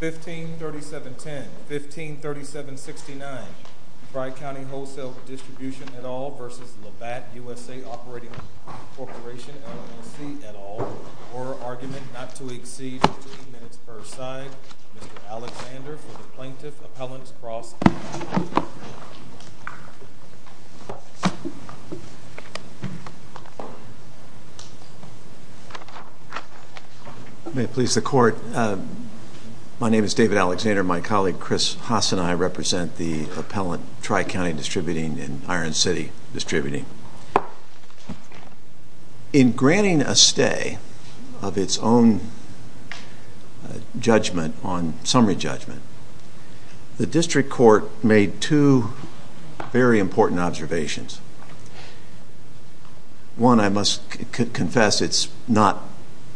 1537.10, 1537.69, Dry County Wholesale v. Labatt USA Operating Co, LLC, at all, or argument not to exceed 15 minutes per side, Mr. Alexander, for the Plaintiff Appellant's Cross-Examination. May it please the Court, my name is David Alexander, my colleague Chris Haas and I represent the Appellant Dry County Distributing and Iron City Distributing. In granting a stay of its own judgment on summary judgment, the District Court made two very important observations. One, I must confess, it's not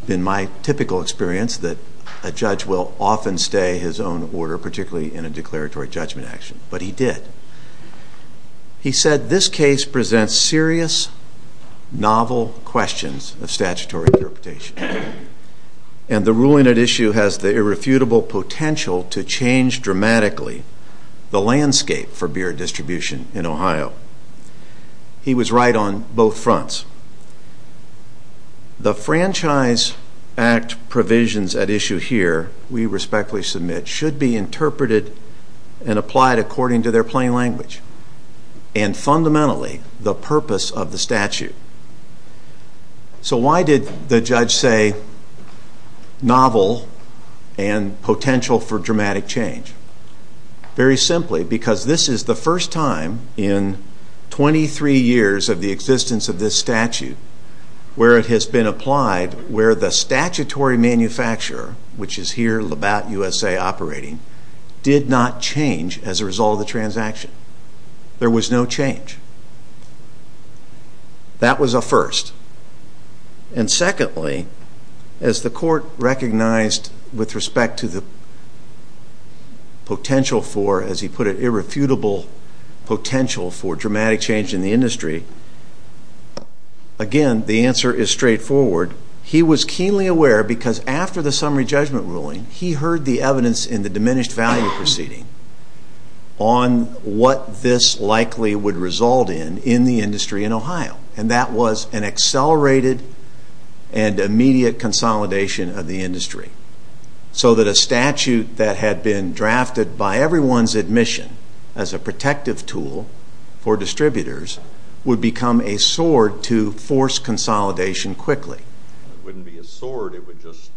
been my typical experience that a judge will often stay his own order, particularly in a declaratory judgment action, but he did. He said, this case presents serious, novel questions of statutory interpretation, and the ruling at issue has the irrefutable potential to change dramatically the landscape for beer distribution in Ohio. He was right on both fronts. The Franchise Act provisions at issue here, we respectfully submit, should be and fundamentally the purpose of the statute. So why did the judge say novel and potential for dramatic change? Very simply, because this is the first time in 23 years of the existence of this statute where it has been applied, where the statutory manufacturer, which is here, Labatt USA Operating, did not change as a result of the transaction. There was no change. That was a first. And secondly, as the Court recognized with respect to the potential for, as he put it, irrefutable potential for dramatic change in the industry, again, the answer is straightforward. He was keenly aware, because after the summary judgment ruling, he heard the evidence in the diminished value proceeding on what this likely would result in, in the industry in Ohio. And that was an accelerated and immediate consolidation of the industry. So that a statute that had been drafted by everyone's admission as a protective tool for distributors would become a sword to force consolidation quickly. It wouldn't be a sword, it would just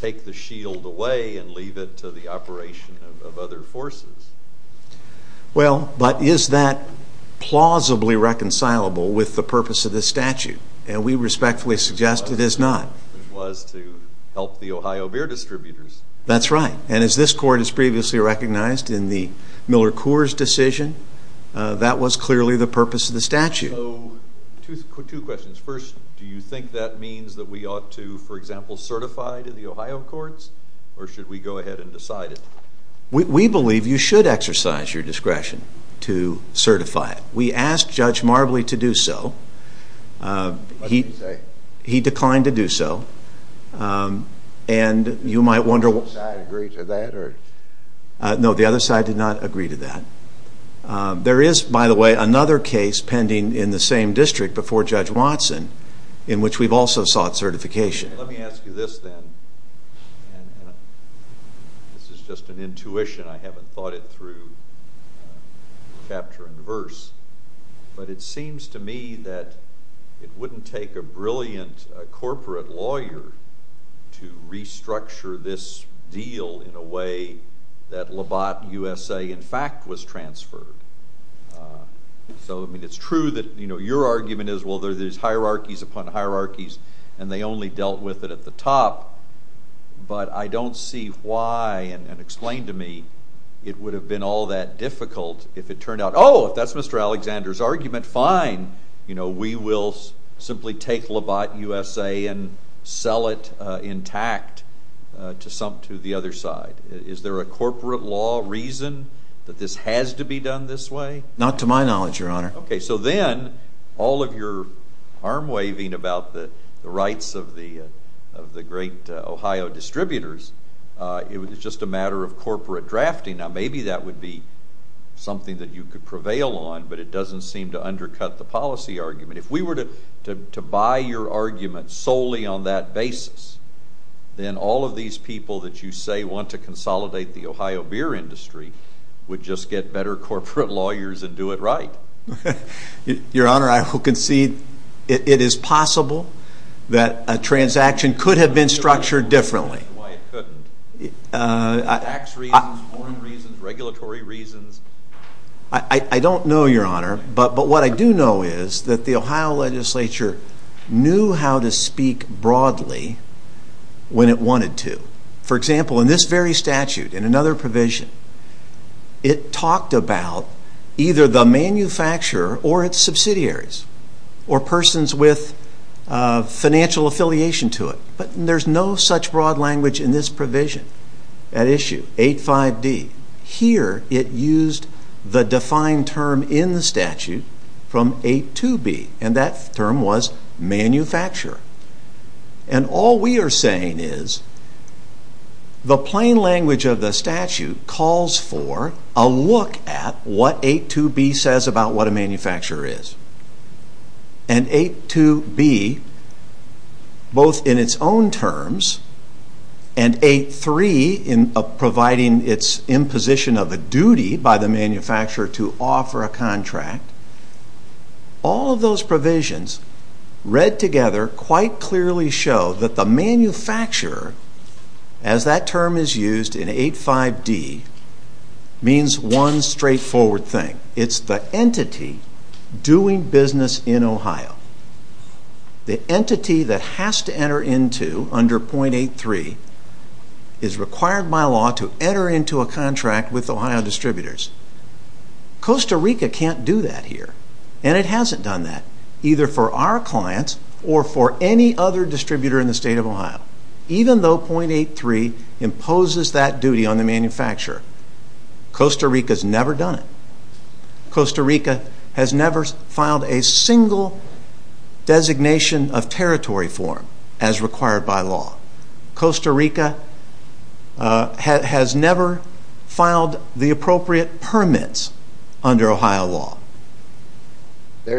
take the shield away and leave it to the operation of other forces. Well, but is that plausibly reconcilable with the purpose of this statute? And we respectfully suggest it is not. It was to help the Ohio beer distributors. That's right. And as this Court has previously recognized in the Miller Coors decision, that was clearly the purpose of the statute. So, two questions. First, do you think that means that we ought to, for example, certify to the Ohio Courts? Or should we go ahead and decide it? We believe you should exercise your discretion to certify it. We asked Judge Marbley to do so. What did he say? He declined to do so. And you might wonder... Did one side agree to that? No, the other side did not agree to that. There is, by the way, another case pending in the same district before Judge Watson in which we've also sought certification. Let me ask you this then. This is just an intuition. I haven't thought it through chapter and verse. But it seems to me that it wouldn't take a brilliant corporate lawyer to restructure this deal in a way that Labatt USA, in fact, was transferred. So, I mean, it's true that your argument is, well, there are these hierarchies upon hierarchies and they only dealt with it at the top. But I don't see why, and explain to me, it would have been all that difficult if it turned out, oh, if that's Mr. Alexander's argument, fine, we will simply take Labatt USA and sell it intact to the other side. Is there a corporate law reason that this has to be done this way? Not to my knowledge, Your Honor. Okay. So then, all of your arm-waving about the rights of the great Ohio distributors, it was just a matter of corporate drafting. Now, maybe that would be something that you could prevail on, but it doesn't seem to undercut the policy argument. If we were to buy your argument solely on that basis, then all of these people that you say want to consolidate the Ohio beer industry would just get better corporate lawyers and do it right. Your Honor, I will concede it is possible that a transaction could have been structured differently. Why it couldn't? Tax reasons? Warrant reasons? Regulatory reasons? I don't know, Your Honor, but what I do know is that the Ohio legislature knew how to speak broadly when it wanted to. For example, in this very statute, in another provision, it talked about either the manufacturer or its subsidiaries, or persons with financial affiliation to it. But there's no such broad language in this provision, that issue, 85D. Here, it used the defined term in the statute from 82B, and that term was manufacturer. And all we are saying is the plain language of the statute calls for a look at what 82B says about what a manufacturer is. And 82B, both in its own terms, and 83 in providing its imposition of a duty by the manufacturer to offer a contract, all of those provisions read together quite clearly show that the manufacturer, as that term is used in 85D, means one straightforward thing. It's the entity doing business in Ohio. The entity that has to enter into under 0.83 is required by law to enter into a contract with Ohio distributors. Costa Rica can't do that here, and it hasn't done that, either for our clients or for any other distributor in the state of Ohio. Even though 0.83 imposes that duty on the manufacturer, Costa Rica's never done it. Costa Rica has never filed a single designation of territory form as required by law. Costa Rica has never filed the appropriate permits under Ohio law.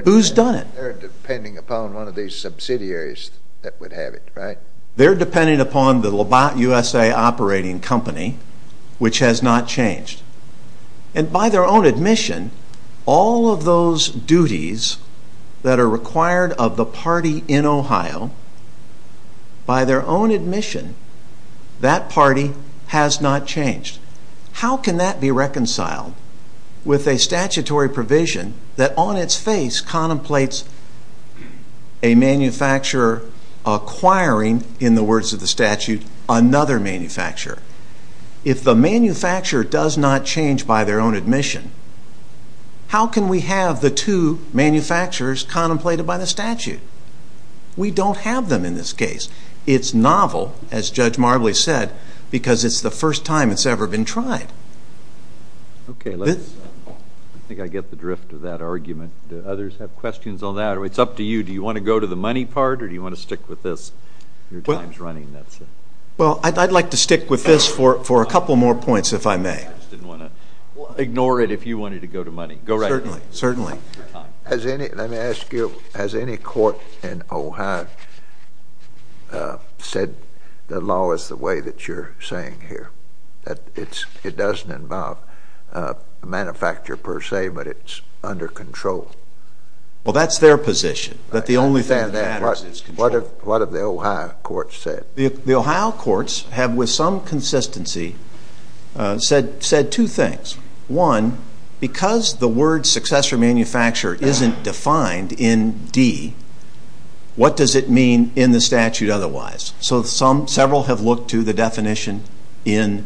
Who's done it? They're depending upon one of these subsidiaries that would have it, right? They're depending upon the Lobot USA operating company, which has not changed. And by their own admission, all of those duties that are required of the party in Ohio, by their own admission, that party has not changed. How can that be reconciled with a statutory provision that on its face contemplates a manufacturer acquiring, in the words of the statute, another manufacturer? If the manufacturer does not change by their own admission, how can we have the two manufacturers contemplated by the statute? We don't have them in this case. It's novel, as Judge Marbley said, because it's the first time it's ever been tried. Okay, I think I get the drift of that argument. Do others have questions on that? It's up to you. Do you want to go to the money part, or do you want to stick with this? Your time's running, that's it. Well, I'd like to stick with this for a couple more points, if I may. I just didn't want to ignore it if you wanted to go to money. Go right ahead. Certainly, certainly. Let me ask you, has any court in Ohio said the law is the way that you're saying here, that it doesn't involve a manufacturer per se, but it's under control? Well, that's their position, that the only thing that matters is control. What have the Ohio courts said? The Ohio courts have, with some consistency, said two things. One, because the word successor manufacturer isn't defined in D, what does it mean in the statute otherwise? So several have looked to the definition in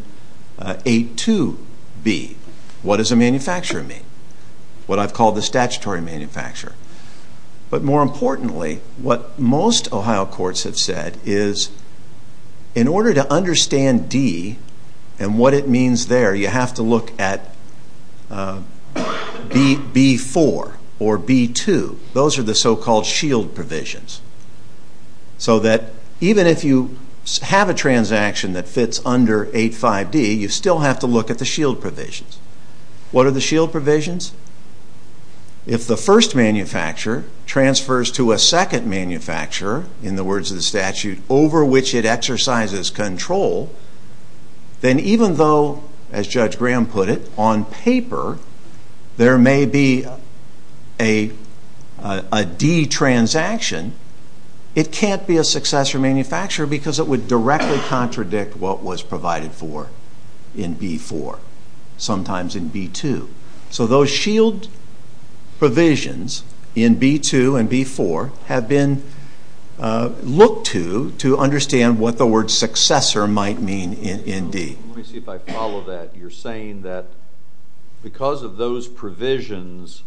8.2b. What does a manufacturer mean? What I've called the statutory manufacturer. But more importantly, what most Ohio courts have said is in order to understand D and what it means there, you have to look at B.4 or B.2. Those are the so-called shield provisions. So that even if you have a transaction that fits under 8.5d, you still have to look at the shield provisions. What are the shield provisions? If the first manufacturer transfers to a second manufacturer, in the words of the statute, over which it exercises control, then even though, as Judge Graham put it, on paper there may be a D transaction, it can't be a successor manufacturer because it would directly contradict what was provided for in B.4, sometimes in B.2. So those shield provisions in B.2 and B.4 have been looked to to understand what the word successor might mean in D. Let me see if I follow that. You're saying that because of those provisions,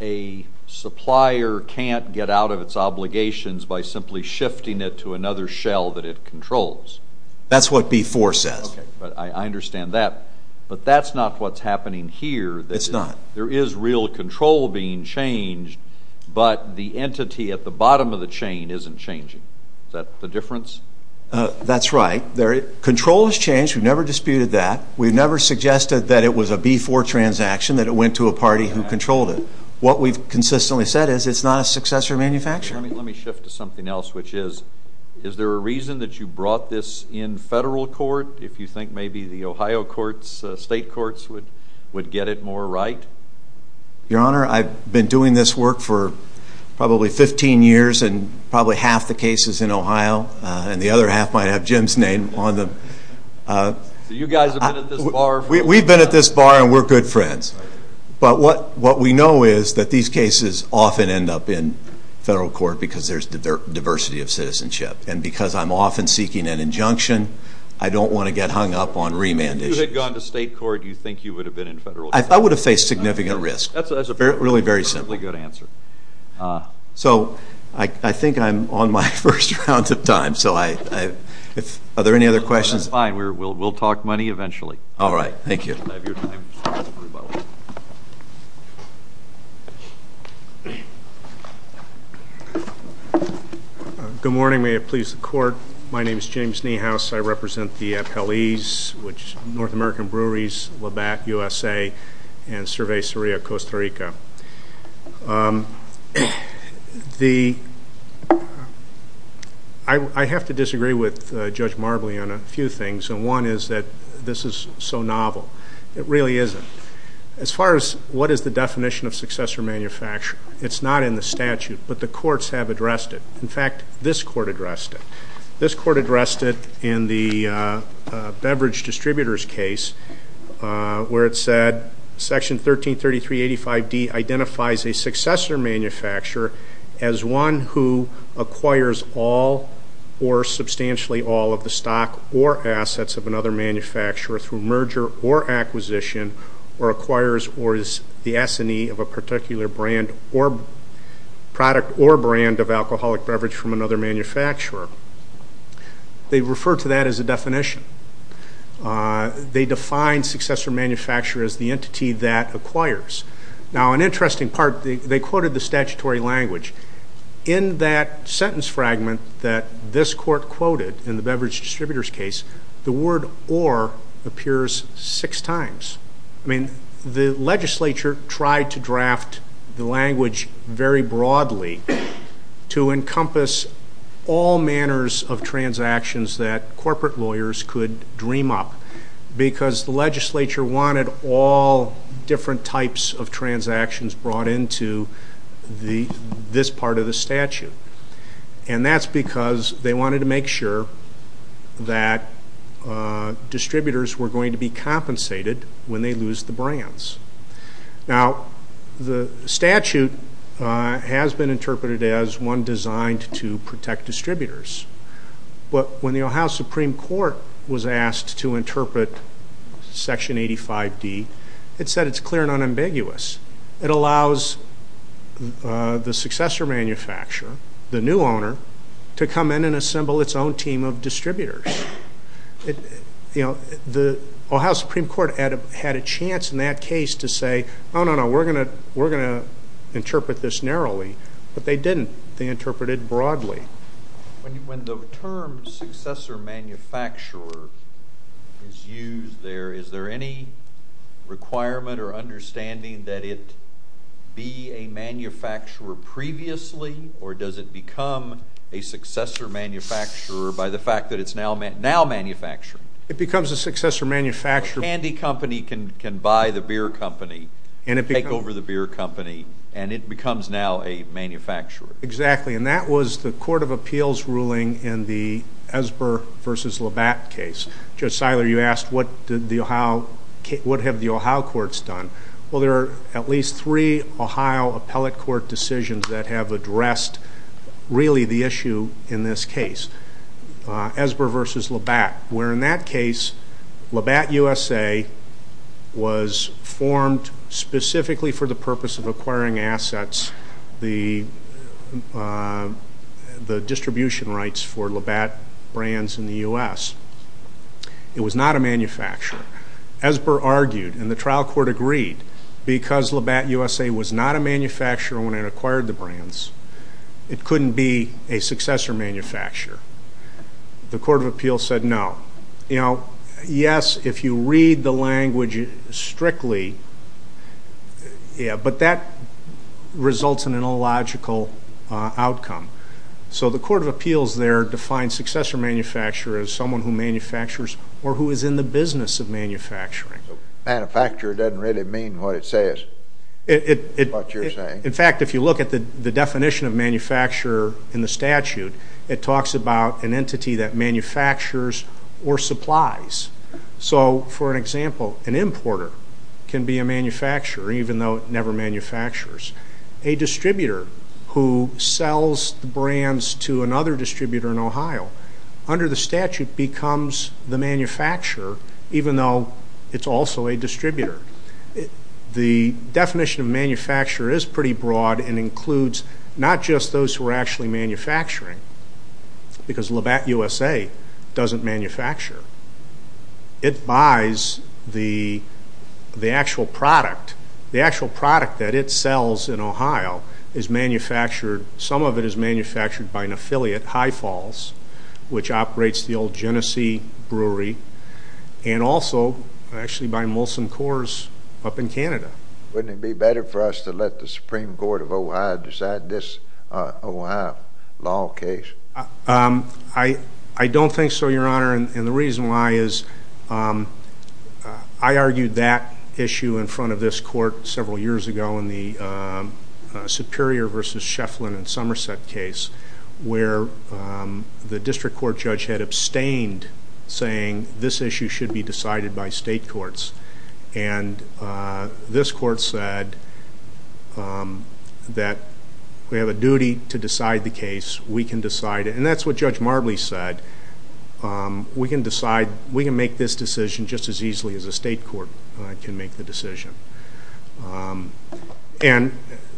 a supplier can't get out of its obligations by simply shifting it to another shell that it controls. That's what B.4 says. Okay, but I understand that. But that's not what's happening here. It's not. There is real control being changed, but the entity at the bottom of the chain isn't changing. Is that the difference? That's right. Control has changed. We've never disputed that. We've never suggested that it was a B.4 transaction, that it went to a party who controlled it. What we've consistently said is it's not a successor manufacturer. Let me shift to something else, which is, is there a reason that you brought this in federal court? If you think maybe the Ohio courts, state courts, would get it more right? Your Honor, I've been doing this work for probably 15 years and probably half the cases in Ohio, and the other half might have Jim's name on them. So you guys have been at this bar? We've been at this bar, and we're good friends. But what we know is that these cases often end up in federal court because there's diversity of citizenship. And because I'm often seeking an injunction, I don't want to get hung up on remand issues. If you had gone to state court, do you think you would have been in federal court? I would have faced significant risk. That's a perfectly good answer. So I think I'm on my first round of time. So are there any other questions? That's fine. We'll talk money eventually. All right. Thank you. You have your time. Good morning. May it please the Court. My name is James Niehaus. I represent the appellees, which is North American Breweries, Labatt USA, and Cerveceria Costa Rica. I have to disagree with Judge Marbley on a few things, and one is that this is so novel. It really isn't. As far as what is the definition of successor manufacture, it's not in the statute, but the courts have addressed it. In fact, this court addressed it. In the beverage distributors case where it said Section 133385D identifies a successor manufacturer as one who acquires all or substantially all of the stock or assets of another manufacturer through merger or acquisition or acquires or is the assignee of a particular brand or product or brand of alcoholic beverage from another manufacturer. They refer to that as a definition. They define successor manufacturer as the entity that acquires. Now, an interesting part, they quoted the statutory language. In that sentence fragment that this court quoted in the beverage distributors case, the word or appears six times. The legislature tried to draft the language very broadly to encompass all manners of transactions that corporate lawyers could dream up because the legislature wanted all different types of transactions brought into this part of the statute. And that's because they wanted to make sure that distributors were going to be compensated when they lose the brands. Now, the statute has been interpreted as one designed to protect distributors. But when the Ohio Supreme Court was asked to interpret Section 85D, it said it's clear and unambiguous. It allows the successor manufacturer, the new owner, to come in and assemble its own team of distributors. You know, the Ohio Supreme Court had a chance in that case to say, oh, no, no, we're going to interpret this narrowly. But they didn't. They interpreted it broadly. When the term successor manufacturer is used there, is there any requirement or understanding that it be a manufacturer previously? Or does it become a successor manufacturer by the fact that it's now manufacturing? It becomes a successor manufacturer. A candy company can buy the beer company, take over the beer company, and it becomes now a manufacturer. Exactly. And that was the Court of Appeals ruling in the Esber v. Labatt case. Judge Seiler, you asked what have the Ohio courts done. Well, there are at least three Ohio appellate court decisions that have addressed really the issue in this case, Esber v. Labatt. Where in that case, Labatt USA was formed specifically for the purpose of acquiring assets, the distribution rights for Labatt brands in the U.S. It was not a manufacturer. Esber argued, and the trial court agreed, because Labatt USA was not a manufacturer when it acquired the brands, it couldn't be a successor manufacturer. The Court of Appeals said no. You know, yes, if you read the language strictly, yeah, but that results in an illogical outcome. So the Court of Appeals there defines successor manufacturer as someone who manufactures or who is in the business of manufacturing. Manufacturer doesn't really mean what it says, what you're saying. In fact, if you look at the definition of manufacturer in the statute, it talks about an entity that manufactures or supplies. So, for an example, an importer can be a manufacturer even though it never manufactures. A distributor who sells the brands to another distributor in Ohio, under the statute, becomes the manufacturer even though it's also a distributor. The definition of manufacturer is pretty broad and includes not just those who are actually manufacturing, because Labatt USA doesn't manufacture. It buys the actual product. The actual product that it sells in Ohio is manufactured, some of it is manufactured by an affiliate, High Falls, which operates the old Genesee Brewery, and also actually by Molson Coors up in Canada. Wouldn't it be better for us to let the Supreme Court of Ohio decide this Ohio law case? I don't think so, Your Honor, and the reason why is I argued that issue in front of this court several years ago in the Superior v. Schefflin and Somerset case where the district court judge had abstained, saying this issue should be decided by state courts, and this court said that we have a duty to decide the case. We can decide it, and that's what Judge Marbley said. We can make this decision just as easily as a state court can make the decision, and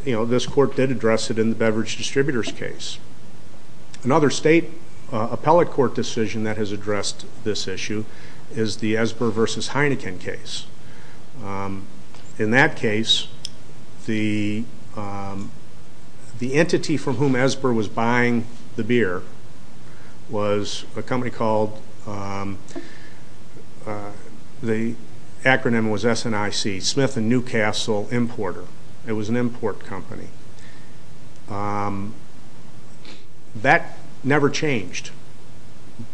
this court did address it in the beverage distributors case. Another state appellate court decision that has addressed this issue is the Esber v. Heineken case. In that case, the entity from whom Esber was buying the beer was a company called, the acronym was SNIC, Smith & Newcastle Importer. It was an import company. That never changed,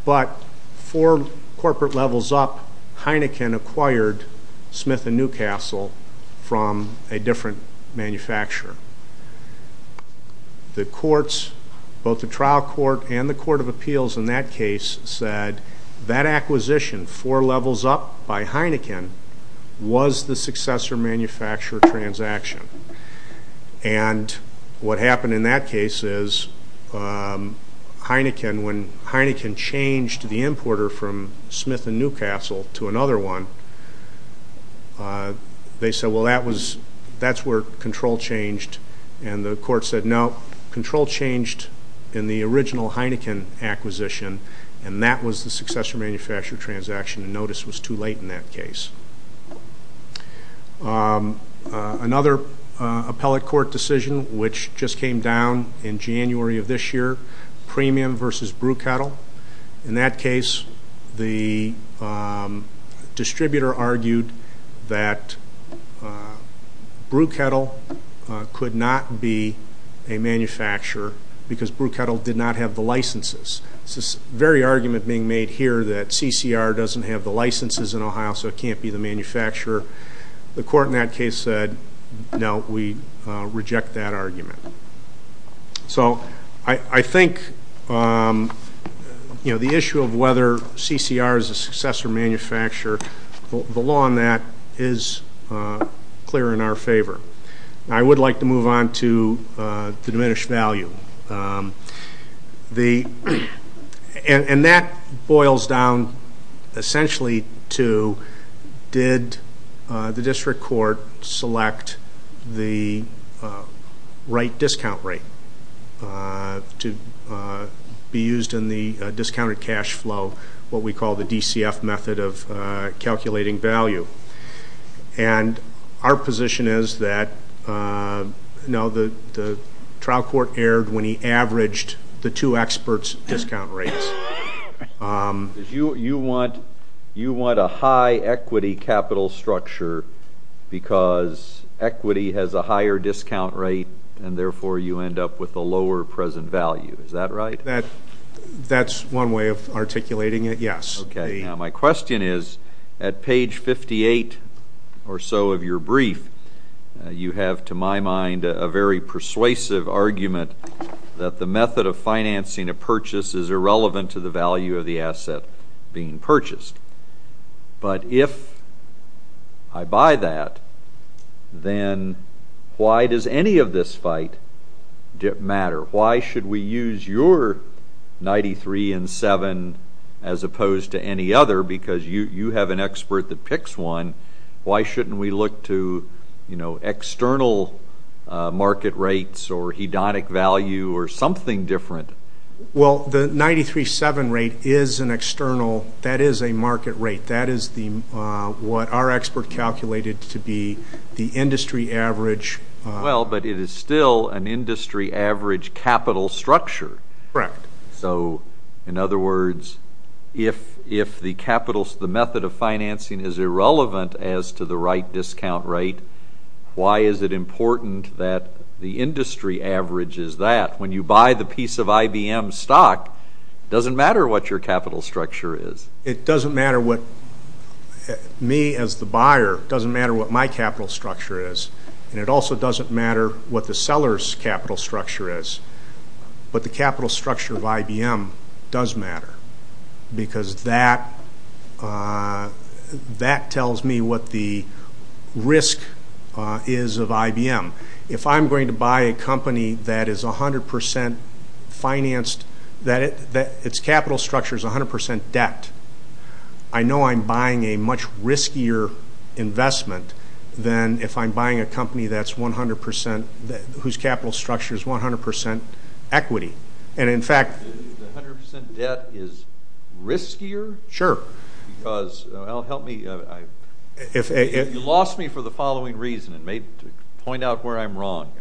but four corporate levels up, Heineken acquired Smith & Newcastle from a different manufacturer. The courts, both the trial court and the court of appeals in that case, said that acquisition four levels up by Heineken was the successor manufacturer transaction, and what happened in that case is when Heineken changed the importer from Smith & Newcastle to another one, they said, well, that's where control changed, and the court said, no, control changed in the original Heineken acquisition, and that was the successor manufacturer transaction, and notice was too late in that case. Another appellate court decision, which just came down in January of this year, Premium v. Brew Kettle. In that case, the distributor argued that Brew Kettle could not be a manufacturer because Brew Kettle did not have the licenses. It's this very argument being made here that CCR doesn't have the licenses in Ohio, so it can't be the manufacturer. The court in that case said, no, we reject that argument. So I think, you know, the issue of whether CCR is a successor manufacturer, the law on that is clear in our favor. I would like to move on to the diminished value. And that boils down essentially to did the district court select the right discount rate to be used in the discounted cash flow, what we call the DCF method of calculating value. And our position is that, no, the trial court erred when he averaged the two experts' discount rates. You want a high equity capital structure because equity has a higher discount rate, and therefore you end up with a lower present value. Is that right? That's one way of articulating it, yes. Okay. Now, my question is, at page 58 or so of your brief, you have, to my mind, a very persuasive argument that the method of financing a purchase is irrelevant to the value of the asset being purchased. But if I buy that, then why does any of this fight matter? Why should we use your 93 and 7 as opposed to any other? Because you have an expert that picks one. Why shouldn't we look to, you know, external market rates or hedonic value or something different? Well, the 93-7 rate is an external. That is a market rate. That is what our expert calculated to be the industry average. Well, but it is still an industry average capital structure. Correct. So, in other words, if the method of financing is irrelevant as to the right discount rate, why is it important that the industry average is that? When you buy the piece of IBM stock, it doesn't matter what your capital structure is. It doesn't matter what me as the buyer, it doesn't matter what my capital structure is. And it also doesn't matter what the seller's capital structure is. But the capital structure of IBM does matter because that tells me what the risk is of IBM. If I'm going to buy a company that is 100% financed, that its capital structure is 100% debt, I know I'm buying a much riskier investment than if I'm buying a company that's 100% whose capital structure is 100% equity. And, in fact, the 100% debt is riskier? Sure. Because, well, help me. You lost me for the following reason, and maybe to point out where I'm wrong.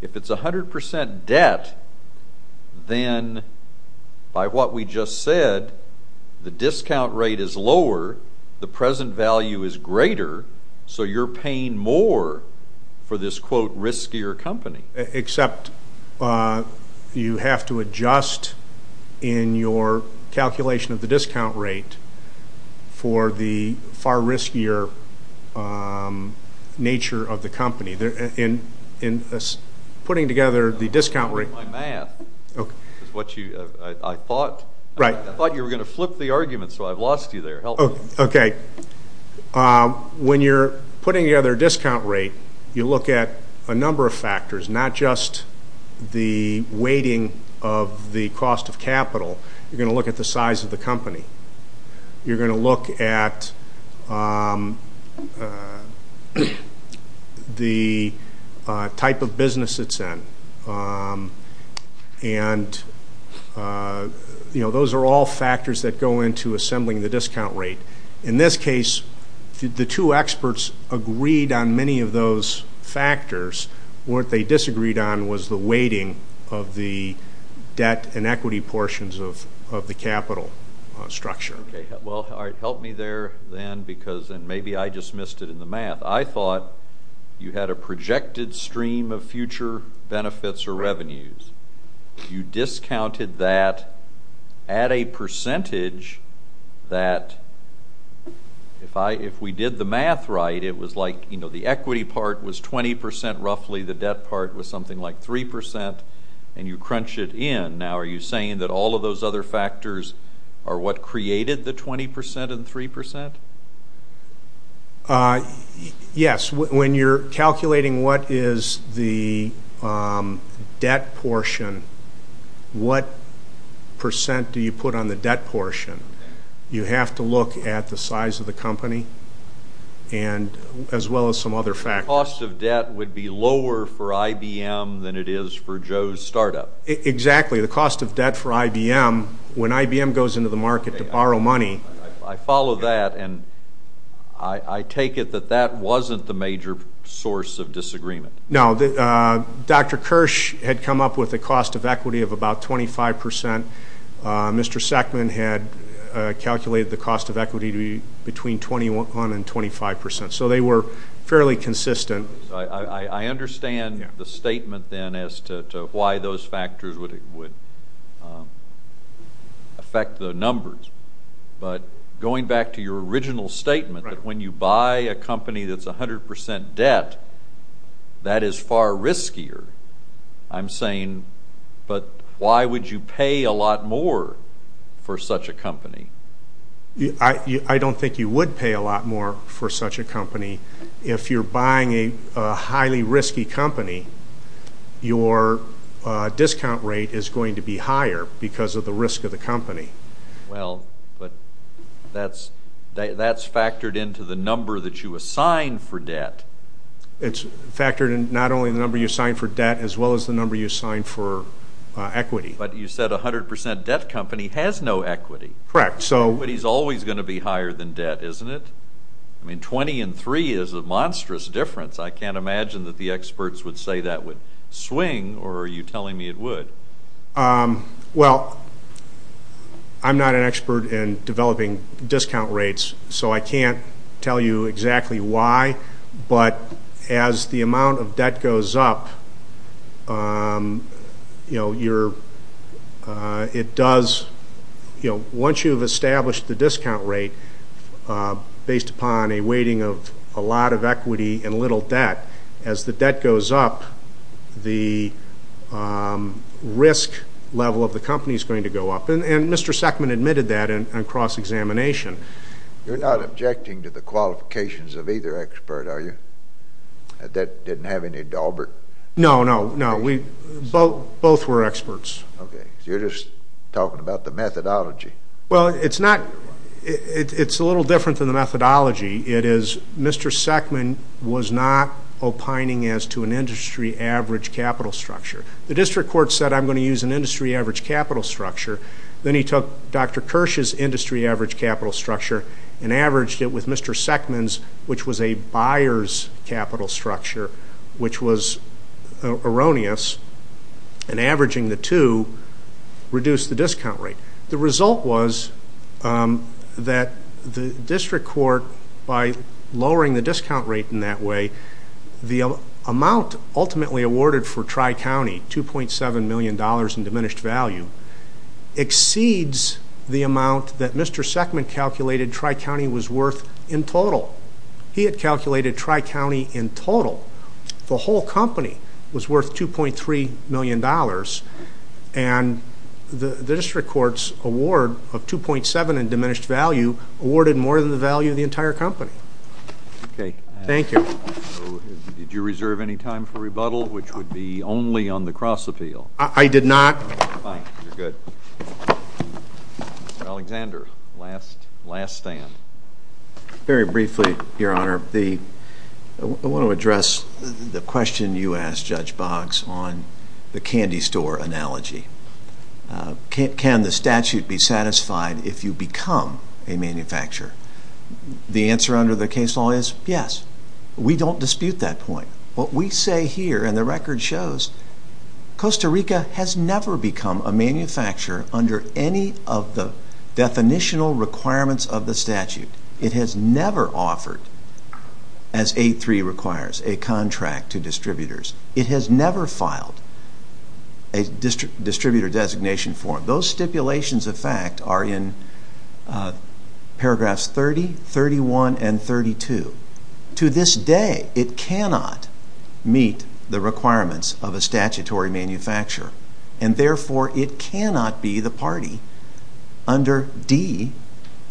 If it's 100% debt, then, by what we just said, the discount rate is lower, the present value is greater, so you're paying more for this, quote, riskier company. Except you have to adjust in your calculation of the discount rate for the far riskier nature of the company. In putting together the discount rate. My math is what I thought. I thought you were going to flip the argument, so I've lost you there. Okay. When you're putting together a discount rate, you look at a number of factors, not just the weighting of the cost of capital. You're going to look at the size of the company. You're going to look at the type of business it's in. And, you know, those are all factors that go into assembling the discount rate. In this case, the two experts agreed on many of those factors. What they disagreed on was the weighting of the debt and equity portions of the capital structure. Okay. Well, help me there, then, because then maybe I just missed it in the math. I thought you had a projected stream of future benefits or revenues. You discounted that at a percentage that, if we did the math right, it was like, you know, the equity part was 20 percent roughly, the debt part was something like 3 percent, and you crunch it in. Now, are you saying that all of those other factors are what created the 20 percent and 3 percent? Yes. When you're calculating what is the debt portion, what percent do you put on the debt portion? You have to look at the size of the company as well as some other factors. The cost of debt would be lower for IBM than it is for Joe's startup. Exactly. The cost of debt for IBM, when IBM goes into the market to borrow money. I follow that, and I take it that that wasn't the major source of disagreement. No. Dr. Kirsch had come up with a cost of equity of about 25 percent. Mr. Sackman had calculated the cost of equity to be between 21 and 25 percent, so they were fairly consistent. I understand the statement then as to why those factors would affect the numbers, but going back to your original statement that when you buy a company that's 100 percent debt, that is far riskier. I'm saying, but why would you pay a lot more for such a company? I don't think you would pay a lot more for such a company. If you're buying a highly risky company, your discount rate is going to be higher because of the risk of the company. Well, but that's factored into the number that you assign for debt. It's factored in not only the number you assign for debt as well as the number you assign for equity. But you said 100 percent debt company has no equity. Correct. Equity is always going to be higher than debt, isn't it? I mean, 20 and 3 is a monstrous difference. I can't imagine that the experts would say that would swing, or are you telling me it would? Well, I'm not an expert in developing discount rates, so I can't tell you exactly why, but as the amount of debt goes up, you know, once you've established the discount rate based upon a weighting of a lot of equity and little debt, as the debt goes up, the risk level of the company is going to go up. And Mr. Sackman admitted that in cross-examination. You're not objecting to the qualifications of either expert, are you? That didn't have any dauber? No, no, no. Both were experts. Okay. You're just talking about the methodology. Well, it's not. It's a little different than the methodology. It is Mr. Sackman was not opining as to an industry average capital structure. The district court said, I'm going to use an industry average capital structure. Then he took Dr. Kirsch's industry average capital structure and averaged it with Mr. Sackman's, which was a buyer's capital structure, which was erroneous, and averaging the two reduced the discount rate. The result was that the district court, by lowering the discount rate in that way, the amount ultimately awarded for Tri-County, $2.7 million in diminished value, exceeds the amount that Mr. Sackman calculated Tri-County was worth in total. He had calculated Tri-County in total. The whole company was worth $2.3 million. The district court's award of $2.7 million in diminished value awarded more than the value of the entire company. Okay. Thank you. Did you reserve any time for rebuttal, which would be only on the cross-appeal? I did not. Fine. You're good. Mr. Alexander, last stand. Very briefly, Your Honor, I want to address the question you asked Judge Boggs on the candy store analogy. Can the statute be satisfied if you become a manufacturer? The answer under the case law is yes. We don't dispute that point. What we say here, and the record shows, Costa Rica has never become a manufacturer under any of the definitional requirements of the statute. It has never offered, as 8.3 requires, a contract to distributors. It has never filed a distributor designation form. Those stipulations, in fact, are in paragraphs 30, 31, and 32. To this day, it cannot meet the requirements of a statutory manufacturer, and therefore it cannot be the party under D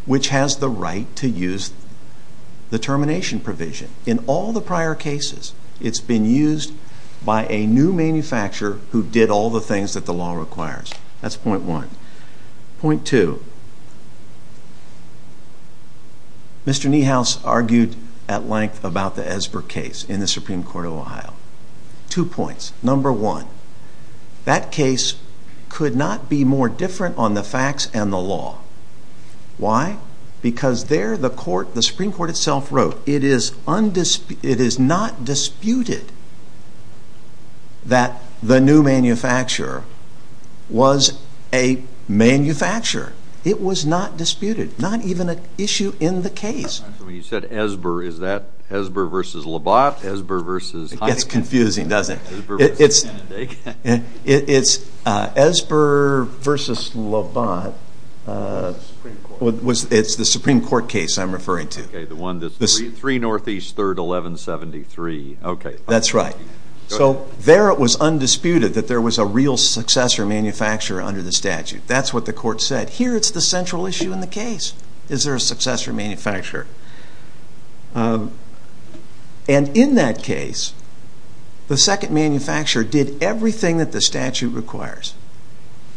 which has the right to use the termination provision. In all the prior cases, it's been used by a new manufacturer who did all the things that the law requires. That's point one. Point two, Mr. Niehaus argued at length about the Esber case in the Supreme Court of Ohio. Two points. Number one, that case could not be more different on the facts and the law. Why? Because there the Supreme Court itself wrote it is not disputed that the new manufacturer was a manufacturer. It was not disputed, not even an issue in the case. When you said Esber, is that Esber v. Labatt? Esber v. It gets confusing, doesn't it? It's Esber v. Labatt. It's the Supreme Court case I'm referring to. Okay, the one that's 3 Northeast 3rd 1173. That's right. So there it was undisputed that there was a real successor manufacturer under the statute. That's what the court said. Here it's the central issue in the case. Is there a successor manufacturer? And in that case, the second manufacturer did everything that the statute requires.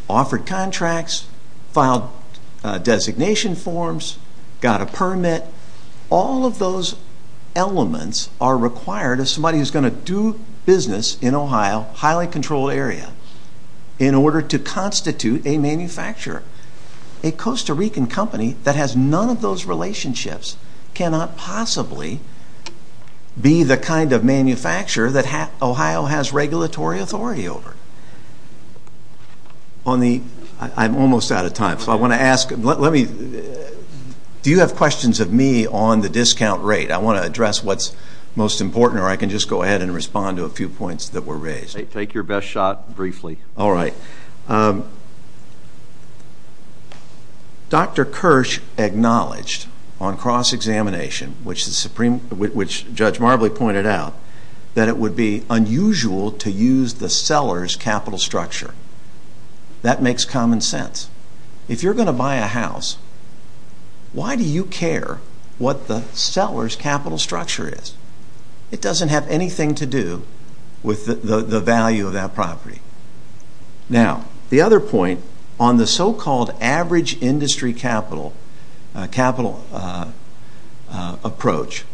Offered contracts, filed designation forms, got a permit. All of those elements are required of somebody who's going to do business in Ohio, highly controlled area, in order to constitute a manufacturer. A Costa Rican company that has none of those relationships cannot possibly be the kind of manufacturer that Ohio has regulatory authority over. I'm almost out of time. So I want to ask, do you have questions of me on the discount rate? I want to address what's most important, or I can just go ahead and respond to a few points that were raised. Take your best shot briefly. All right. Dr. Kirsch acknowledged on cross-examination, which Judge Marbley pointed out, that it would be unusual to use the seller's capital structure. That makes common sense. If you're going to buy a house, why do you care what the seller's capital structure is? It doesn't have anything to do with the value of that property. Now, the other point, on the so-called average industry capital approach,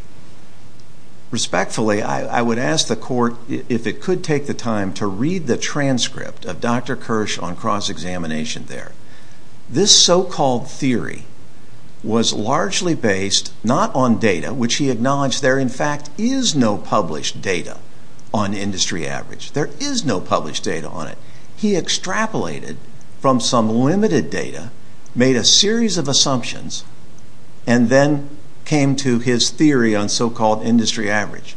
respectfully, I would ask the Court if it could take the time to read the transcript of Dr. Kirsch on cross-examination there. This so-called theory was largely based not on data, which he acknowledged there, in fact, is no published data on industry average. There is no published data on it. He extrapolated from some limited data, made a series of assumptions, and then came to his theory on so-called industry average.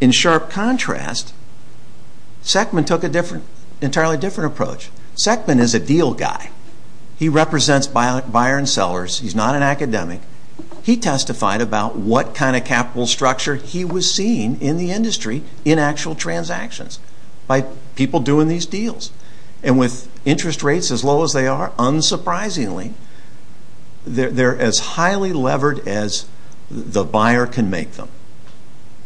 In sharp contrast, Sekman took an entirely different approach. Sekman is a deal guy. He represents buyer and sellers. He's not an academic. He testified about what kind of capital structure he was seeing in the industry in actual transactions by people doing these deals. And with interest rates as low as they are, unsurprisingly, they're as highly levered as the buyer can make them.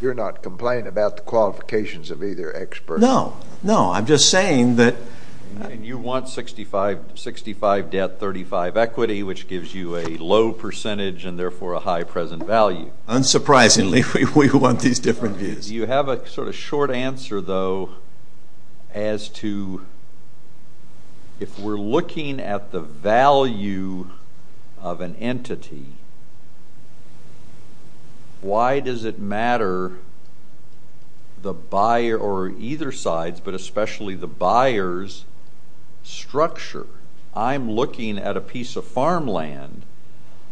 You're not complaining about the qualifications of either expert? No. No, I'm just saying that you want 65 debt, 35 equity, which gives you a low percentage and therefore a high present value. Unsurprisingly, we want these different views. Do you have a sort of short answer, though, as to if we're looking at the value of an entity, why does it matter the buyer or either side, but especially the buyer's structure? I'm looking at a piece of farmland,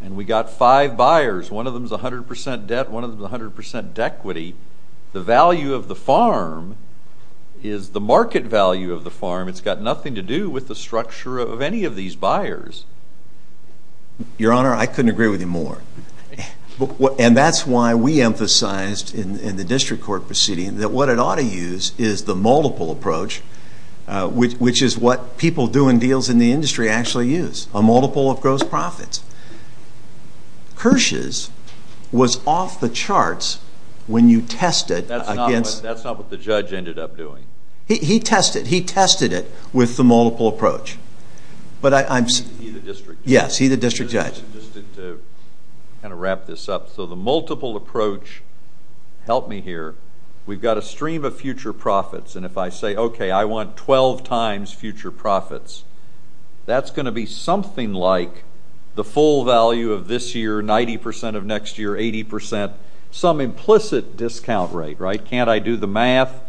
and we've got five buyers. One of them is 100% debt, one of them is 100% equity. The value of the farm is the market value of the farm. It's got nothing to do with the structure of any of these buyers. Your Honor, I couldn't agree with you more. And that's why we emphasized in the district court proceeding that what it ought to use is the multiple approach, which is what people doing deals in the industry actually use, a multiple of gross profits. Kirsch's was off the charts when you tested against... That's not what the judge ended up doing. He tested it with the multiple approach. He's the district judge. Yes, he's the district judge. Just to kind of wrap this up, so the multiple approach... Help me here. We've got a stream of future profits, and if I say, okay, I want 12 times future profits, that's going to be something like the full value of this year, 90% of next year, 80%, Can't I do the math?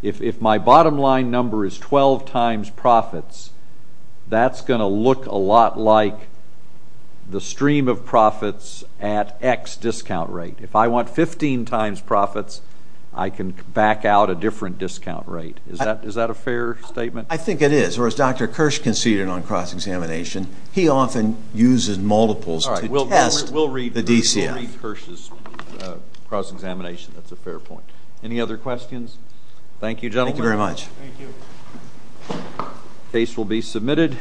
If my bottom line number is 12 times profits, that's going to look a lot like the stream of profits at X discount rate. If I want 15 times profits, I can back out a different discount rate. Is that a fair statement? I think it is, or as Dr. Kirsch conceded on cross-examination, he often uses multiples to test the DCF. We'll read Kirsch's cross-examination. That's a fair point. Any other questions? Thank you, gentlemen. Thank you very much. Case will be submitted.